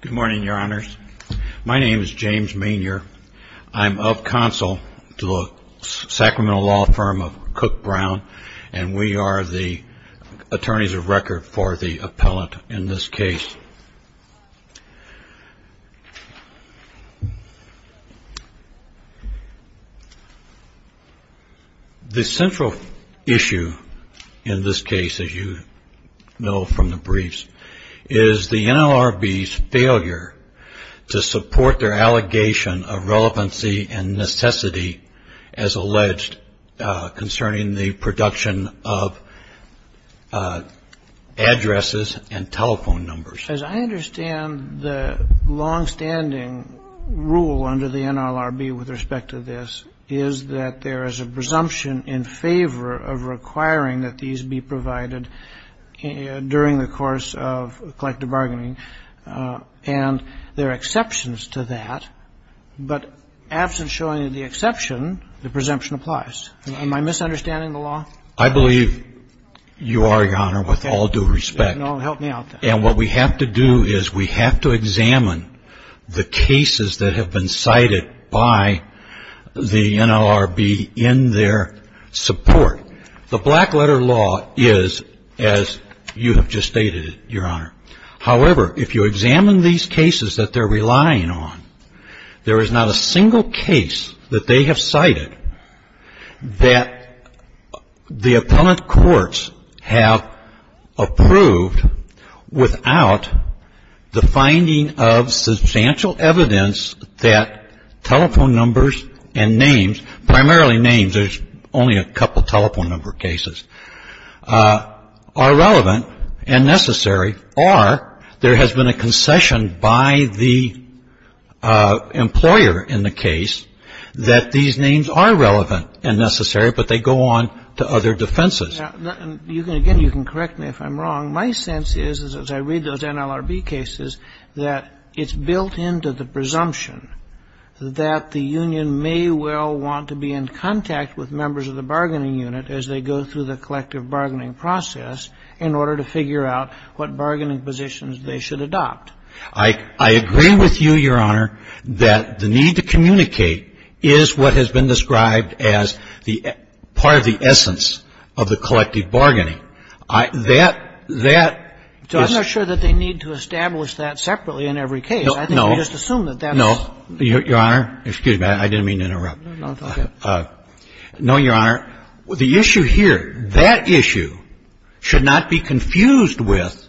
Good morning, your honors. My name is James Maynier. I'm of counsel to the Sacramento law firm of Cook Brown, and we are the attorneys of record for the appellant in this case. The central issue in this case, as you know from the briefs, is the NLRB's failure to support their allegation of relevancy and necessity, as alleged, concerning the production of addresses and telephone numbers. As I understand, the longstanding rule under the NLRB with respect to this is that there is a presumption in favor of requiring that these be provided during the course of collective bargaining, and there are exceptions to that. But absent showing the exception, the presumption applies. Am I misunderstanding the law? I believe you are, your honor, with all due respect. No, help me out there. And what we have to do is we have to examine the cases that have been cited by the NLRB in their support. The black letter law is as you have just stated it, your honor. However, if you examine these cases that they're relying on, there is not a single case that they have cited that the appellant courts have approved without the finding of substantial evidence that telephone numbers and names, primarily names, there's only a couple of telephone numbers, telephone number cases, are relevant and necessary, or there has been a concession by the employer in the case that these names are relevant and necessary, but they go on to other defenses. Again, you can correct me if I'm wrong. My sense is, as I read those NLRB cases, that it's built into the presumption that the union may well want to be in contact with members of the bargaining unit as they go through the collective bargaining process in order to figure out what bargaining positions they should adopt. I agree with you, your honor, that the need to communicate is what has been described as the part of the essence of the collective bargaining. That, that is — So I'm not sure that they need to establish that separately in every case. No, no. I think we just assume that that's — No, your honor. Excuse me. I didn't mean to interrupt. No, go ahead. No, your honor. The issue here, that issue should not be confused with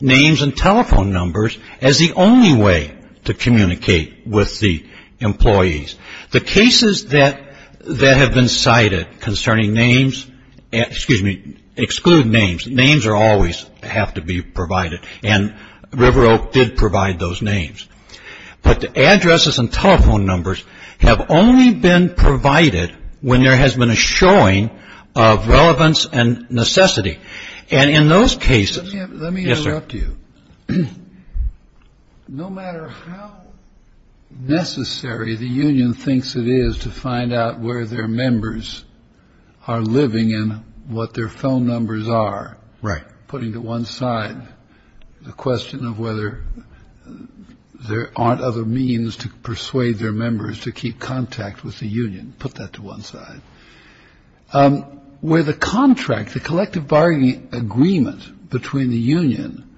names and telephone numbers as the only way to communicate with the employees. The cases that have been cited concerning names — excuse me — exclude names. Names always have to be provided, and River Oak did provide those names. But the addresses and telephone numbers have only been provided when there has been a showing of relevance and necessity. And in those cases — Let me interrupt you. Yes, sir. No matter how necessary the union thinks it is to find out where their members are living and what their phone numbers are — Right. Putting to one side the question of whether there aren't other means to persuade their members to keep contact with the union. Put that to one side. With a contract, the collective bargaining agreement between the union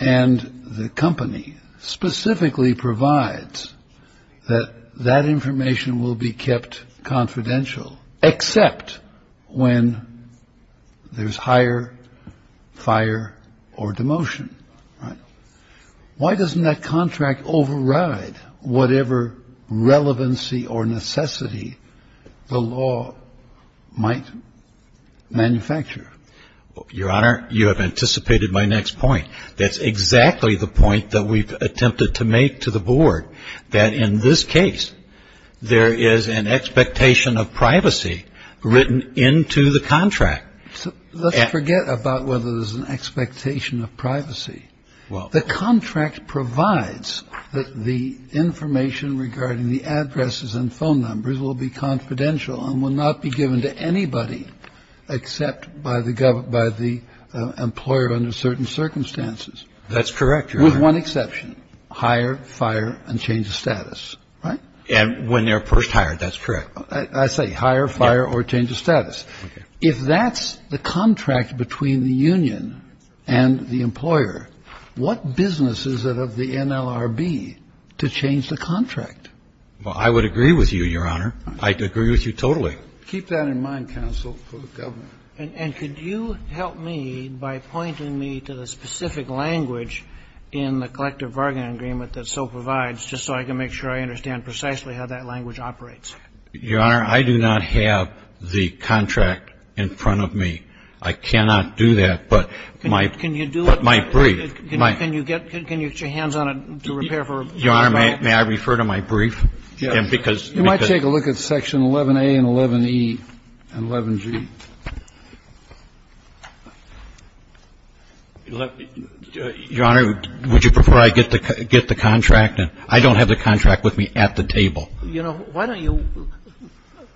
and the company specifically provides that that information will be kept confidential, except when there's hire, fire or demotion. Right. Why doesn't that contract override whatever relevancy or necessity the law might manufacture? Your honor, you have anticipated my next point. That's exactly the point that we've attempted to make to the board, that in this case, there is an expectation of privacy written into the contract. So let's forget about whether there's an expectation of privacy. The contract provides that the information regarding the addresses and phone numbers will be confidential and will not be given to anybody except by the employer under certain circumstances. That's correct, Your Honor. With one exception. Hire, fire and change of status. Right? And when they're first hired, that's correct. I say hire, fire or change of status. If that's the contract between the union and the employer, what business is it of the NLRB to change the contract? Well, I would agree with you, Your Honor. I agree with you totally. Keep that in mind, counsel, for the government. And could you help me by pointing me to the specific language in the collective bargaining agreement that so provides, just so I can make sure I understand precisely how that language operates? Your Honor, I do not have the contract in front of me. I cannot do that, but my brief. Can you do it? Can you get your hands on it to repair for a brief? Your Honor, may I refer to my brief? Yes. You might take a look at section 11a and 11e and 11g. Your Honor, would you prefer I get the contract? I don't have the contract with me at the table. Well, you know, why don't you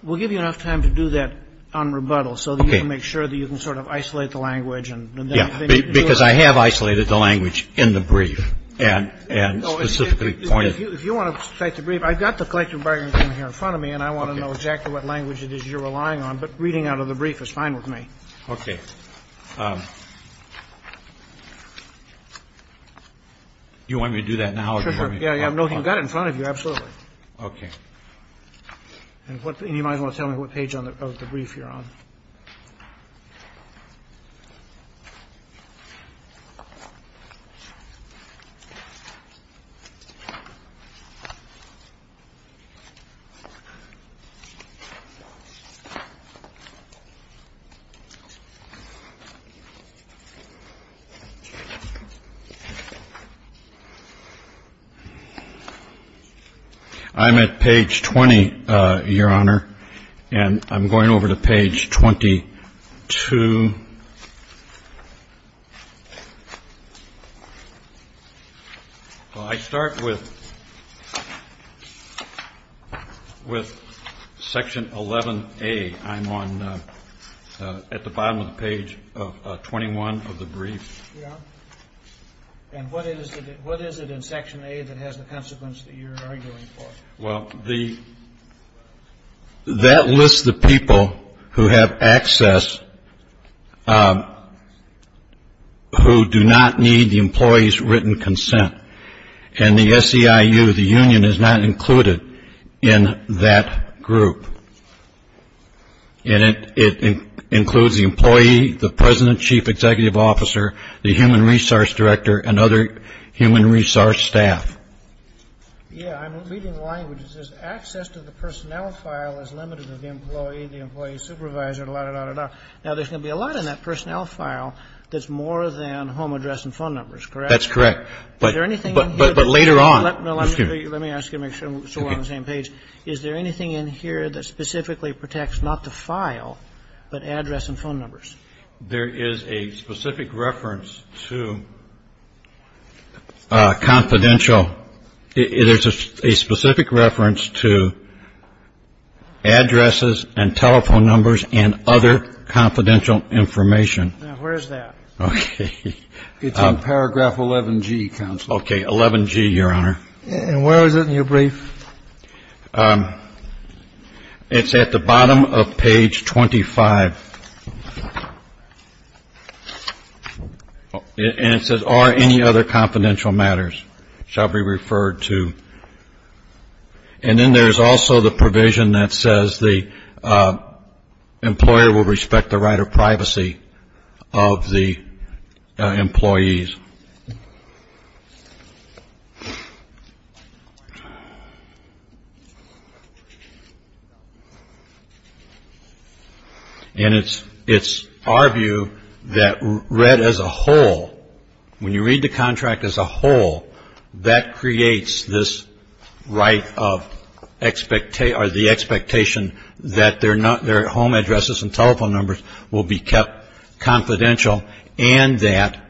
we'll give you enough time to do that on rebuttal so that you can make sure that you can sort of isolate the language and then you can do it. Because I have isolated the language in the brief and specifically pointed. If you want to cite the brief, I've got the collective bargaining agreement in front of me and I want to know exactly what language it is you're relying on. But reading out of the brief is fine with me. Okay. Do you want me to do that now? Sure, sure. Yeah, yeah, I've got it in front of you. Absolutely. Okay. I'm at page 20, Your Honor, and I'm going over to page 22. Well, I start with section 11a. I'm at the bottom of the page 21 of the brief. And what is it in section A that has the consequence that you're arguing for? Well, that lists the people who have access who do not need the employee's written consent. And the SEIU, the union, is not included in that group. And it includes the employee, the president, chief executive officer, the human resource director, and other human resource staff. Yeah, I'm reading the language. It says access to the personnel file is limited to the employee, the employee supervisor, da, da, da, da, da. Now, there's going to be a lot in that personnel file that's more than home address and phone numbers, correct? That's correct. Is there anything in here? But later on. Let me ask you to make sure we're on the same page. Is there anything in here that specifically protects not the file, but address and phone numbers? There is a specific reference to confidential. It is a specific reference to addresses and telephone numbers and other confidential information. Now, where is that? Okay. It's in paragraph 11G, counsel. Okay. 11G, Your Honor. And where is it in your brief? It's at the bottom of page 25. And it says are any other confidential matters shall be referred to. And then there's also the provision that says the employer will respect the right of privacy of the employees. And it's our view that read as a whole, when you read the contract as a whole, that creates this right of the expectation that their home addresses and telephone numbers will be kept confidential and that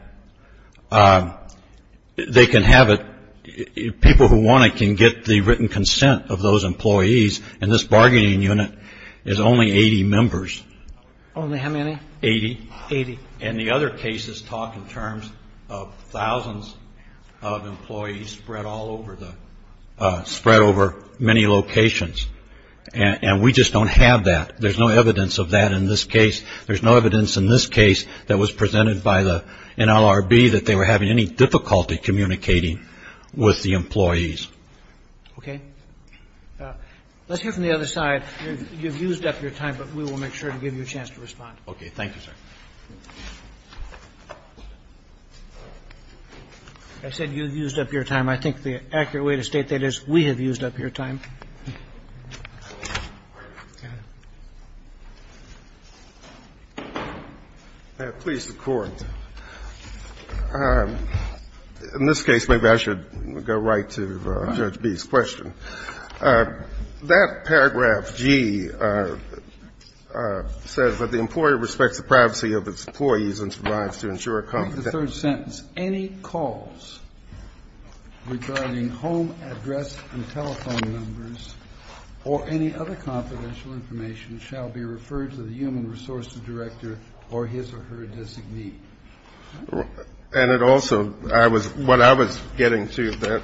they can have it, people who want it can get the written consent of those employees. And this bargaining unit is only 80 members. Only how many? Eighty. Eighty. And the other cases talk in terms of thousands of employees spread all over the, spread over many locations. And we just don't have that. There's no evidence of that in this case. There's no evidence in this case that was presented by the NLRB that they were having any difficulty communicating with the employees. Okay. Let's hear from the other side. You've used up your time, but we will make sure to give you a chance to respond. Okay. Thank you, sir. I said you've used up your time. I think the accurate way to state that is we have used up your time. Please, the Court. In this case, maybe I should go right to Judge B's question. That paragraph, G, says that the employer respects the privacy of its employees and survives to ensure a confidentiality. In that sentence, any calls regarding home address and telephone numbers or any other confidential information shall be referred to the human resources director or his or her designee. And it also, I was, what I was getting to is that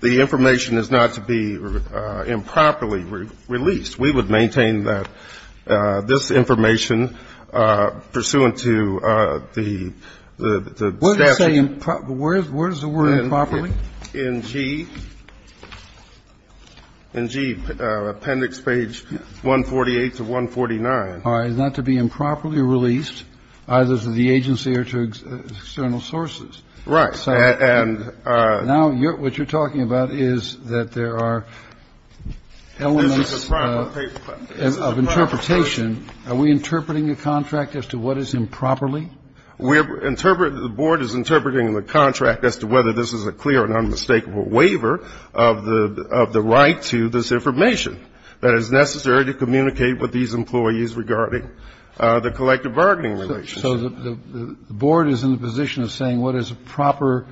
the information is not to be improperly released. We would maintain that this information pursuant to the statute. Where does it say improperly? In G. In G, appendix page 148 to 149. All right. It's not to be improperly released either to the agency or to external sources. Right. Now, what you're talking about is that there are elements of interpretation. Are we interpreting the contract as to what is improperly? The board is interpreting the contract as to whether this is a clear and unmistakable waiver of the right to this information that is necessary to communicate with these employees regarding the collective bargaining relationship. So the board is in the position of saying what is a proper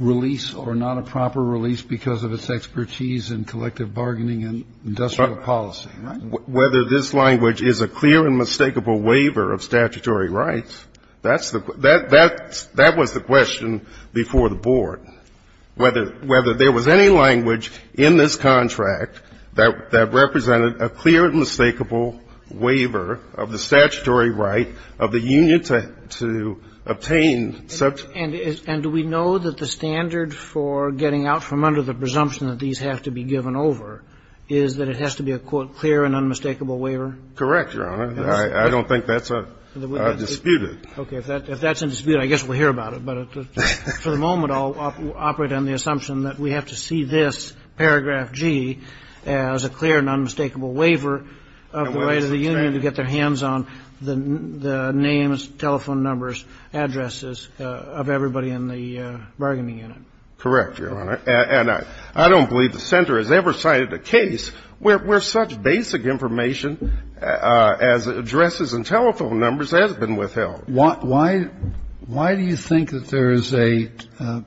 release or not a proper release because of its expertise in collective bargaining and industrial policy. Whether this language is a clear and mistakable waiver of statutory rights, that's the question. That was the question before the board, whether there was any language in this contract that represented a clear and mistakable waiver of the statutory right of the union to obtain such. And do we know that the standard for getting out from under the presumption that these have to be given over is that it has to be a, quote, clear and unmistakable waiver? Correct, Your Honor. I don't think that's disputed. Okay. If that's in dispute, I guess we'll hear about it. But for the moment, I'll operate on the assumption that we have to see this, paragraph G, as a clear and unmistakable waiver of the right of the union to get their hands on the names, telephone numbers, addresses of everybody in the bargaining unit. Correct, Your Honor. And I don't believe the Center has ever cited a case where such basic information as addresses and telephone numbers has been withheld. Why do you think that there is a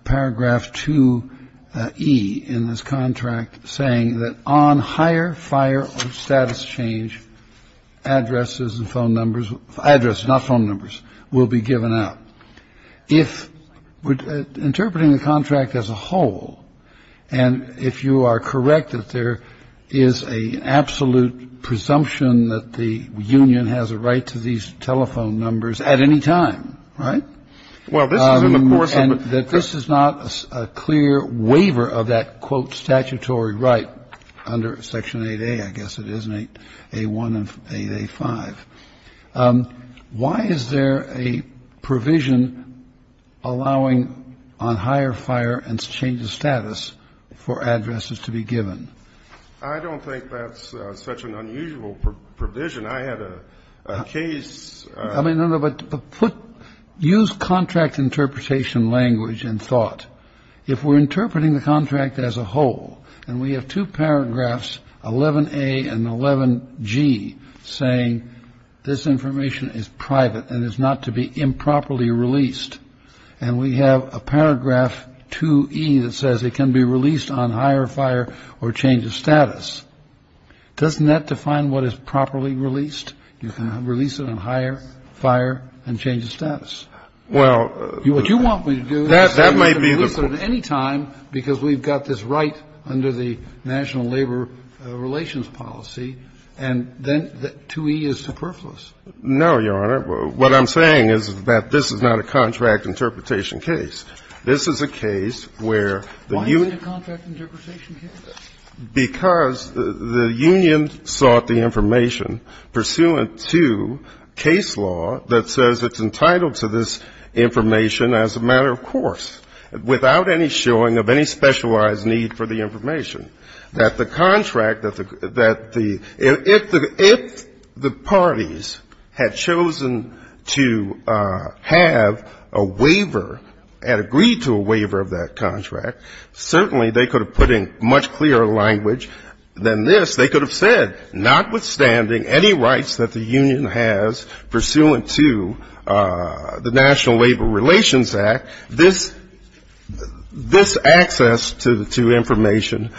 paragraph 2E in this contract saying that on higher fire or status change, addresses and phone numbers, addresses, not phone numbers, will be given out? If interpreting the contract as a whole, and if you are correct that there is an absolute presumption that the union has a right to these telephone numbers at any time, right? Well, this is in the course of a ---- And that this is not a clear waiver of that, quote, statutory right under Section 8A, I guess it is, 8A1 and 8A5. Why is there a provision allowing on higher fire and change of status for addresses to be given? I don't think that's such an unusual provision. I had a case ---- I mean, no, no, but use contract interpretation language and thought. If we're interpreting the contract as a whole, and we have two paragraphs, 11A and 11G, saying this information is private and is not to be improperly released, and we have a paragraph 2E that says it can be released on higher fire or change of status. Doesn't that define what is properly released? You can release it on higher fire and change of status. Well ---- What you want me to do is to release it at any time because we've got this right under the National Labor Relations Policy, and then 2E is superfluous. No, Your Honor. What I'm saying is that this is not a contract interpretation case. This is a case where the union ---- Why isn't it a contract interpretation case? Because the union sought the information pursuant to case law that says it's entitled to this information as a matter of course, without any showing of any specialized need for the information, that the contract that the ---- if the parties had chosen to have a waiver, had agreed to a waiver of that contract, certainly they could have put in much clearer language than this. They could have said, notwithstanding any rights that the union has pursuant to the National Labor Relations Act, this access to information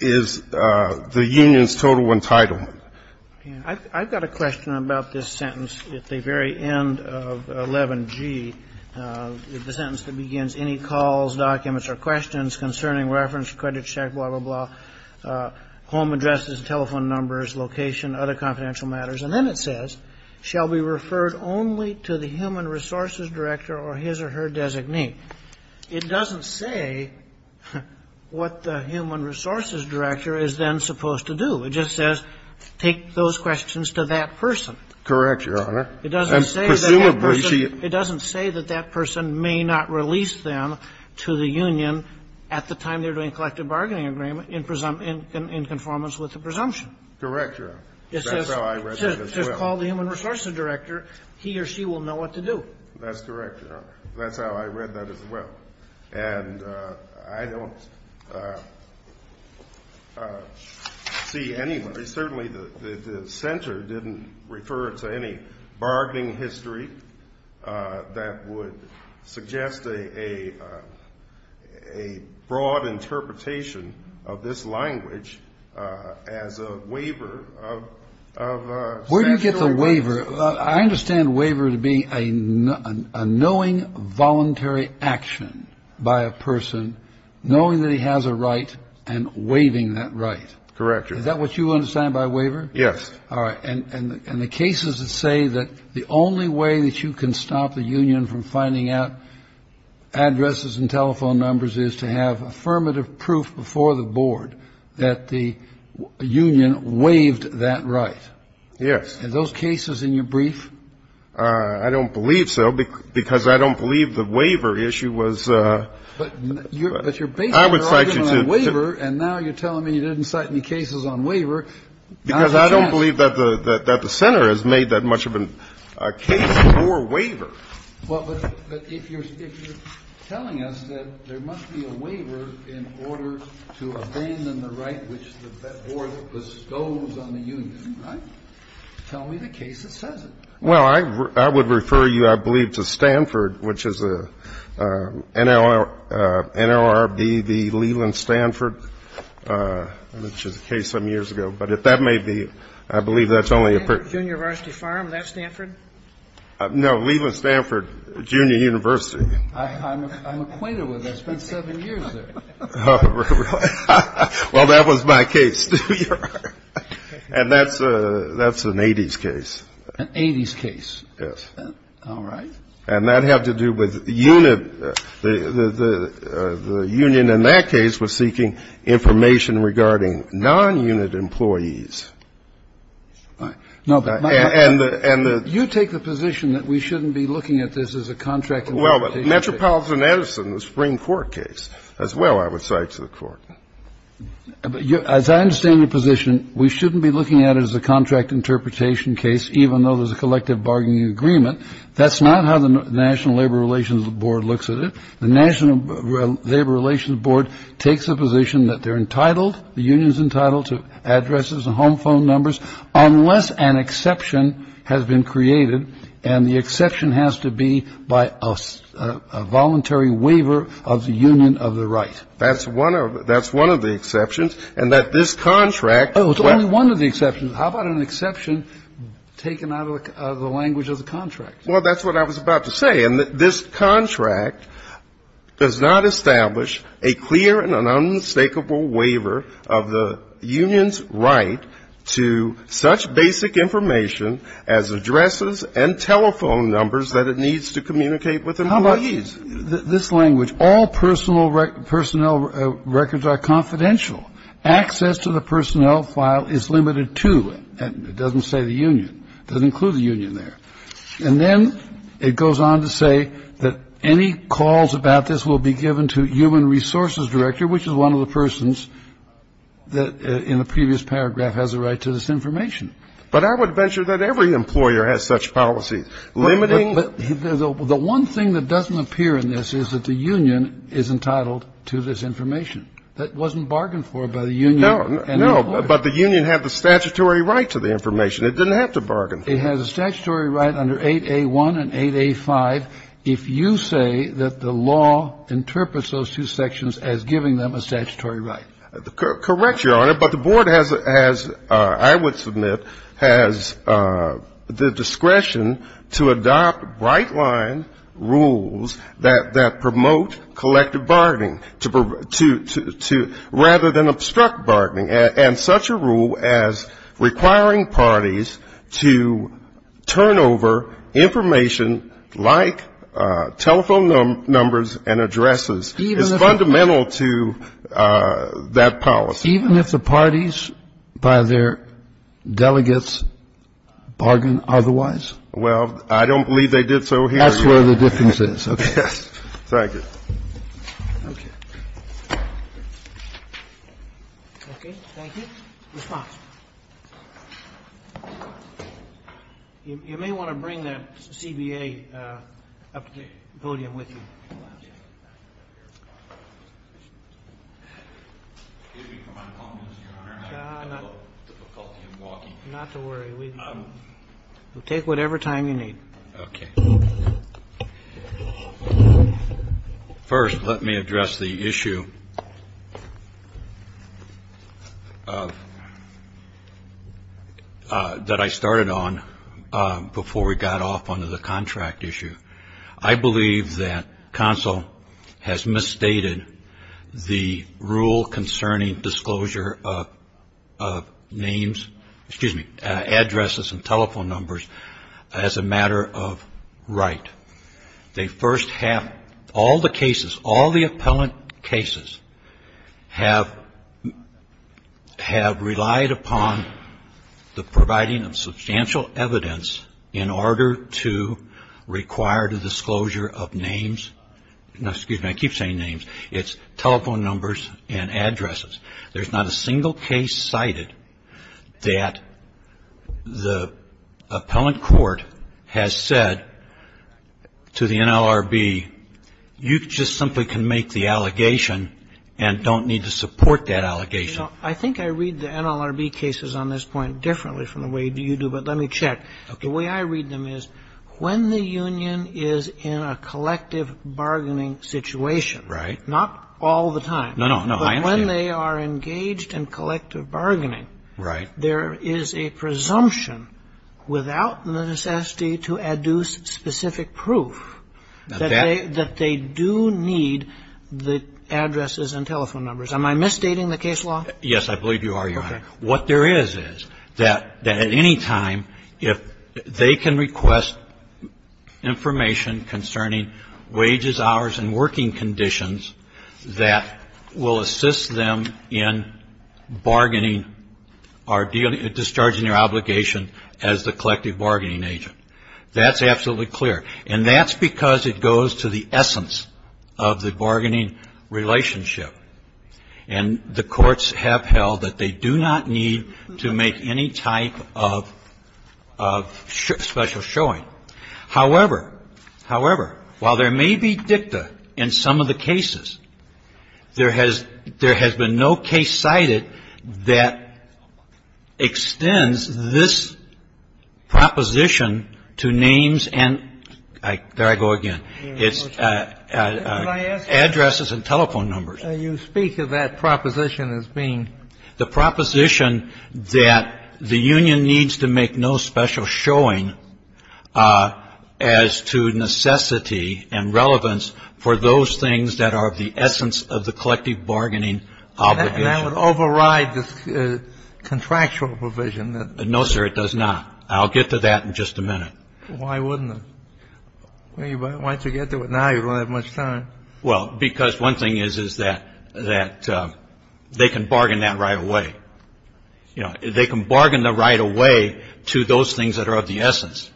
is the union's total entitlement. I've got a question about this sentence at the very end of 11G, the sentence that begins, Any calls, documents, or questions concerning reference, credit check, blah, blah, blah, home addresses, telephone numbers, location, other confidential matters. And then it says, Shall be referred only to the human resources director or his or her designee. It doesn't say what the human resources director is then supposed to do. It just says, take those questions to that person. Correct, Your Honor. And presumably she ---- It doesn't say that that person may not release them to the union at the time they were doing collective bargaining agreement in conformance with the presumption. Correct, Your Honor. That's how I read it as well. It says, call the human resources director. He or she will know what to do. That's correct, Your Honor. That's how I read that as well. And I don't see anyway. Certainly the center didn't refer to any bargaining history that would suggest a broad interpretation of this language as a waiver of statutory rights. Where do you get the waiver? I understand waiver to be a knowing voluntary action by a person knowing that he has a right and waiving that right. Correct, Your Honor. Is that what you understand by waiver? Yes. All right. And the case is to say that the only way that you can stop the union from finding out addresses and telephone numbers is to have affirmative proof before the board that the union waived that right. Yes. Are those cases in your brief? I don't believe so, because I don't believe the waiver issue was. But you're basing your argument on waiver. I would cite you to. And now you're telling me you didn't cite any cases on waiver. Because I don't believe that the center has made that much of a case for waiver. Well, but if you're telling us that there must be a waiver in order to abandon the right which the board bestows on the union. Right? Tell me the case that says it. Well, I would refer you, I believe, to Stanford, which is NLRBV Leland Stanford, which is a case some years ago. But if that may be, I believe that's only a period. Junior University Farm, is that Stanford? No, Leland Stanford Junior University. I'm acquainted with it. I spent seven years there. Well, that was my case, too, Your Honor. And that's an 80s case. An 80s case. Yes. All right. And that had to do with unit. The union in that case was seeking information regarding non-unit employees. All right. No, but you take the position that we shouldn't be looking at this as a contract. Well, but Metropolitan Edison, the Supreme Court case, as well, I would cite to the court. As I understand your position, we shouldn't be looking at it as a contract interpretation case, even though there's a collective bargaining agreement. That's not how the National Labor Relations Board looks at it. The National Labor Relations Board takes the position that they're entitled, the union's entitled to addresses and home phone numbers, unless an exception has been created. And the exception has to be by a voluntary waiver of the union of the right. That's one of the exceptions. And that this contract. Oh, it's only one of the exceptions. How about an exception taken out of the language of the contract? Well, that's what I was about to say. And this contract does not establish a clear and an unmistakable waiver of the union's right to such basic information as addresses and telephone numbers that it needs to communicate with employees. How about this language? All personnel records are confidential. Access to the personnel file is limited to. It doesn't say the union. It doesn't include the union there. And then it goes on to say that any calls about this will be given to human resources director, which is one of the persons that in the previous paragraph has a right to this information. But I would venture that every employer has such policies. Limiting. The one thing that doesn't appear in this is that the union is entitled to this information. That wasn't bargained for by the union. No, but the union had the statutory right to the information. It didn't have to bargain. It has a statutory right under 8A1 and 8A5 if you say that the law interprets those two sections as giving them a statutory right. Correct, Your Honor. But the board has, I would submit, has the discretion to adopt bright-line rules that promote collective bargaining rather than obstruct bargaining. And such a rule as requiring parties to turn over information like telephone numbers and addresses is fundamental to that policy. Even if the parties, by their delegates, bargain otherwise? Well, I don't believe they did so here. That's where the difference is. Okay. Thank you. You may want to bring that CBA up to the podium with you. Excuse me, Your Honor, I have a little difficulty in walking. Not to worry. We'll take whatever time you need. Okay. First, let me address the issue that I started on before we got off onto the contract issue. I believe that counsel has misstated the rule concerning disclosure of names, excuse me, addresses and telephone numbers as a matter of right. They first have all the cases, all the appellant cases have relied upon the providing of substantial evidence in order to require the disclosure of names. Now, excuse me, I keep saying names. It's telephone numbers and addresses. There's not a single case cited that the appellant court has said to the NLRB, you just simply can make the allegation and don't need to support that allegation. I think I read the NLRB cases on this point differently from the way you do, but let me check. Okay. The way I read them is when the union is in a collective bargaining situation. Right. Not all the time. No, no. But when they are engaged in collective bargaining. Right. There is a presumption without the necessity to adduce specific proof that they do need the addresses and telephone numbers. Am I misstating the case law? Yes, I believe you are, Your Honor. Okay. that at any time if they can request information concerning wages, hours, and working conditions that will assist them in bargaining or discharging their obligation as the collective bargaining agent. That's absolutely clear. And that's because it goes to the essence of the bargaining relationship. And the courts have held that they do not need to make any type of special showing. However, however, while there may be dicta in some of the cases, there has been no case cited that extends this proposition to names and, there I go again, addresses and telephone numbers. You speak of that proposition as being. The proposition that the union needs to make no special showing as to necessity and relevance for those things that are of the essence of the collective bargaining obligation. That would override the contractual provision. No, sir, it does not. I'll get to that in just a minute. Why wouldn't it? Why don't you get to it now? You don't have much time. Well, because one thing is that they can bargain that right away. You know, they can bargain the right away to those things that are of the essence.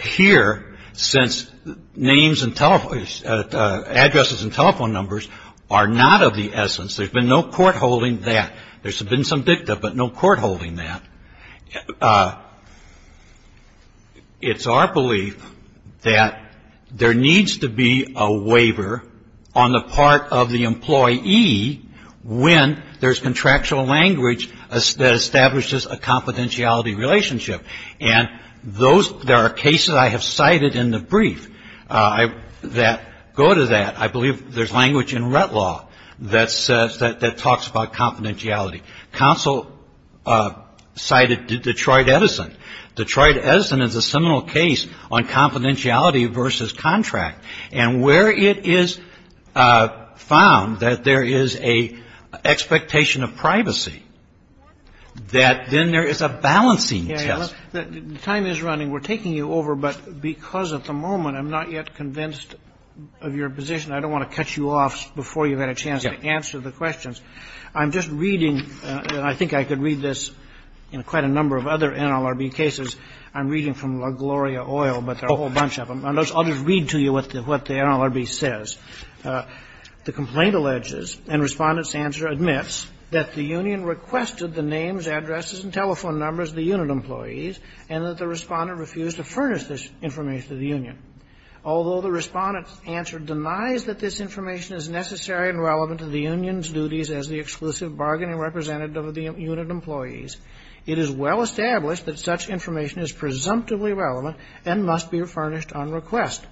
Here, since names and telephone, addresses and telephone numbers are not of the essence, there's been no court holding that. There's been some dicta, but no court holding that. It's our belief that there needs to be a waiver on the part of the employee when there's contractual language that establishes a confidentiality relationship. And those, there are cases I have cited in the brief that go to that. I believe there's language in Rett Law that says, that talks about confidentiality. Counsel cited Detroit Edison. Detroit Edison is a seminal case on confidentiality versus contract. And where it is found that there is an expectation of privacy, that then there is a balancing test. The time is running. We're taking you over, but because at the moment I'm not yet convinced of your position, I don't want to cut you off before you've had a chance to answer the questions. I'm just reading, and I think I could read this in quite a number of other NLRB cases. I'm reading from LaGloria Oil, but there are a whole bunch of them. I'll just read to you what the NLRB says. The complaint alleges, and Respondent's answer admits, that the union requested the names, addresses and telephone numbers of the unit employees and that the Respondent refused to furnish this information to the union. Although the Respondent's answer denies that this information is necessary and relevant to the union's duties as the exclusive bargaining representative of the unit employees, it is well established that such information is presumptively relevant and must be furnished on request.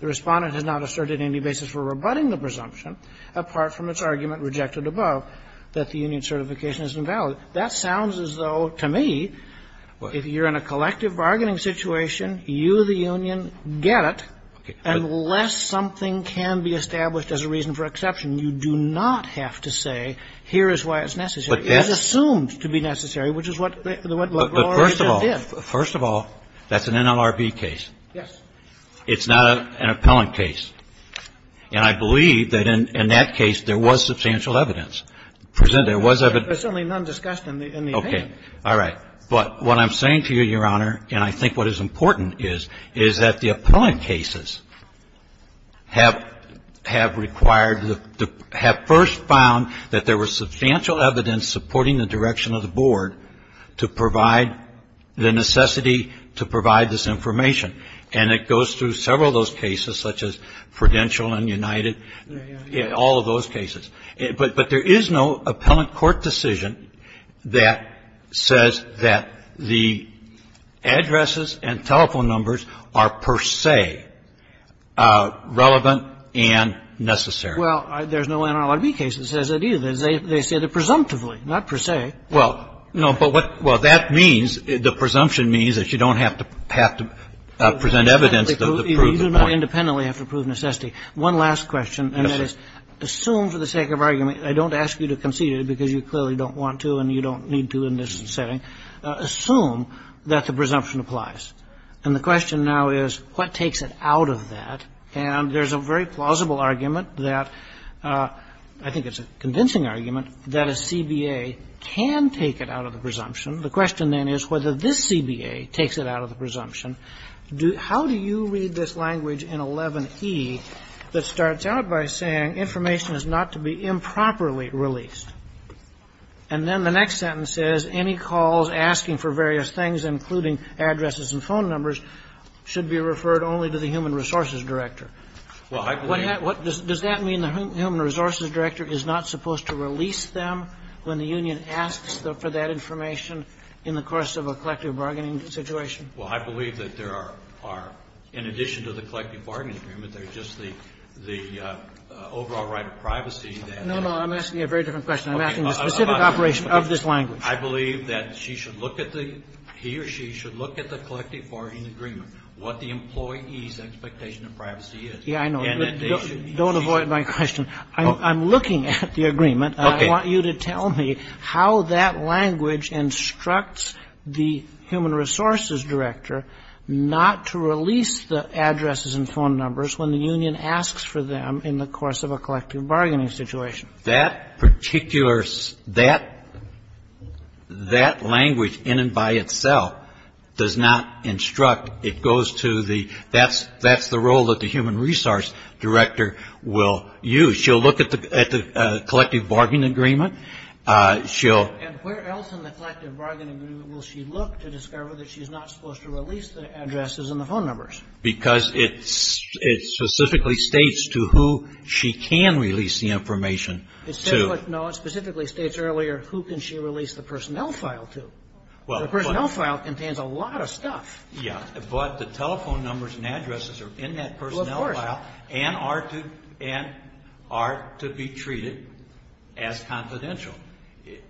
The Respondent has not asserted any basis for rebutting the presumption, apart from its argument rejected above, that the union's certification is invalid. That sounds as though, to me, if you're in a collective bargaining situation, you, the union, get it, unless something can be established as a reason for exception. You do not have to say, here is why it's necessary. It is assumed to be necessary, which is what LaGloria just did. First of all, that's an NLRB case. Yes. It's not an appellant case. And I believe that in that case there was substantial evidence. There was evidence. There's certainly none discussed in the opinion. All right. But what I'm saying to you, Your Honor, and I think what is important is, is that the appellant cases have required, have first found that there was substantial evidence supporting the direction of the board to provide the necessity to provide this information. And it goes through several of those cases, such as Prudential and United, all of those cases. But there is no appellant court decision that says that the addresses and telephone numbers are per se relevant and necessary. Well, there's no NLRB case that says that either. They say that presumptively, not per se. Well, no. But what that means, the presumption means that you don't have to present evidence to prove the point. You don't independently have to prove necessity. One last question. And that is, assume for the sake of argument, I don't ask you to concede it because you clearly don't want to and you don't need to in this setting. Assume that the presumption applies. And the question now is, what takes it out of that? And there's a very plausible argument that, I think it's a convincing argument, that a CBA can take it out of the presumption. The question then is whether this CBA takes it out of the presumption. The question is, how do you read this language in 11e that starts out by saying information is not to be improperly released? And then the next sentence says, any calls asking for various things, including addresses and phone numbers, should be referred only to the human resources director. Well, I believe that. Does that mean the human resources director is not supposed to release them when the union asks for that information in the course of a collective bargaining situation? Well, I believe that there are, in addition to the collective bargaining agreement, there's just the overall right of privacy. No, no. I'm asking you a very different question. I'm asking the specific operation of this language. I believe that she should look at the, he or she should look at the collective bargaining agreement, what the employee's expectation of privacy is. Yeah, I know. Don't avoid my question. I'm looking at the agreement. Okay. I want you to tell me how that language instructs the human resources director not to release the addresses and phone numbers when the union asks for them in the course of a collective bargaining situation. That particular, that language in and by itself does not instruct. It goes to the, that's the role that the human resource director will use. She'll look at the collective bargaining agreement. She'll. And where else in the collective bargaining agreement will she look to discover that she's not supposed to release the addresses and the phone numbers? Because it specifically states to who she can release the information to. No, it specifically states earlier who can she release the personnel file to. The personnel file contains a lot of stuff. Yeah. But the telephone numbers and addresses are in that personnel file. Well, of course. And are to be treated as confidential.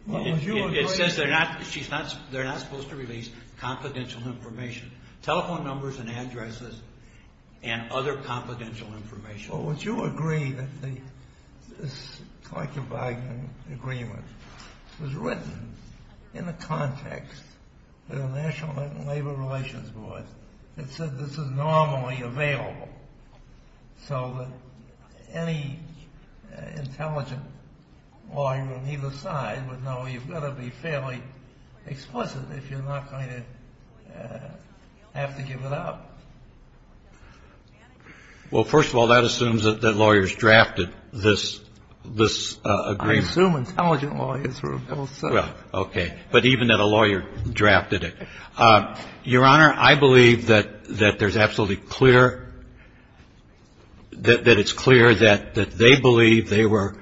Well, would you agree. It says they're not supposed to release confidential information. Telephone numbers and addresses and other confidential information. Well, would you agree that this collective bargaining agreement was written in the So that any intelligent lawyer on either side would know you've got to be fairly explicit if you're not going to have to give it up. Well, first of all, that assumes that lawyers drafted this, this agreement. I assume intelligent lawyers were both. Well, okay. But even that a lawyer drafted it. Your Honor, I believe that there's absolutely clear, that it's clear that they believe they were,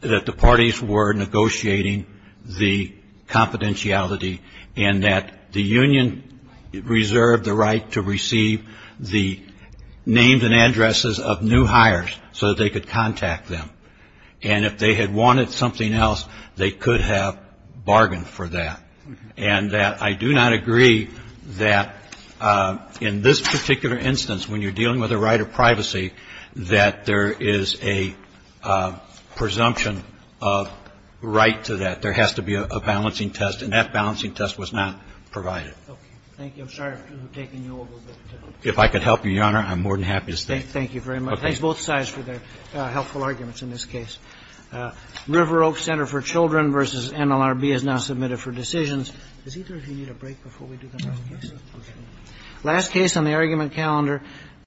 that the parties were negotiating the confidentiality and that the union reserved the right to receive the names and addresses of new hires so they could contact them. And if they had wanted something else, they could have bargained for that. And I do not agree that in this particular instance, when you're dealing with a right of privacy, that there is a presumption of right to that. There has to be a balancing test. And that balancing test was not provided. Okay. Thank you. I'm sorry for taking you over. If I could help you, Your Honor, I'm more than happy to stay. Thank you very much. Thanks both sides for their helpful arguments in this case. River Oak Center for Children v. NLRB has now submitted for decisions. Is it okay if we need a break before we do the next case? Okay. Last case on the argument calendar.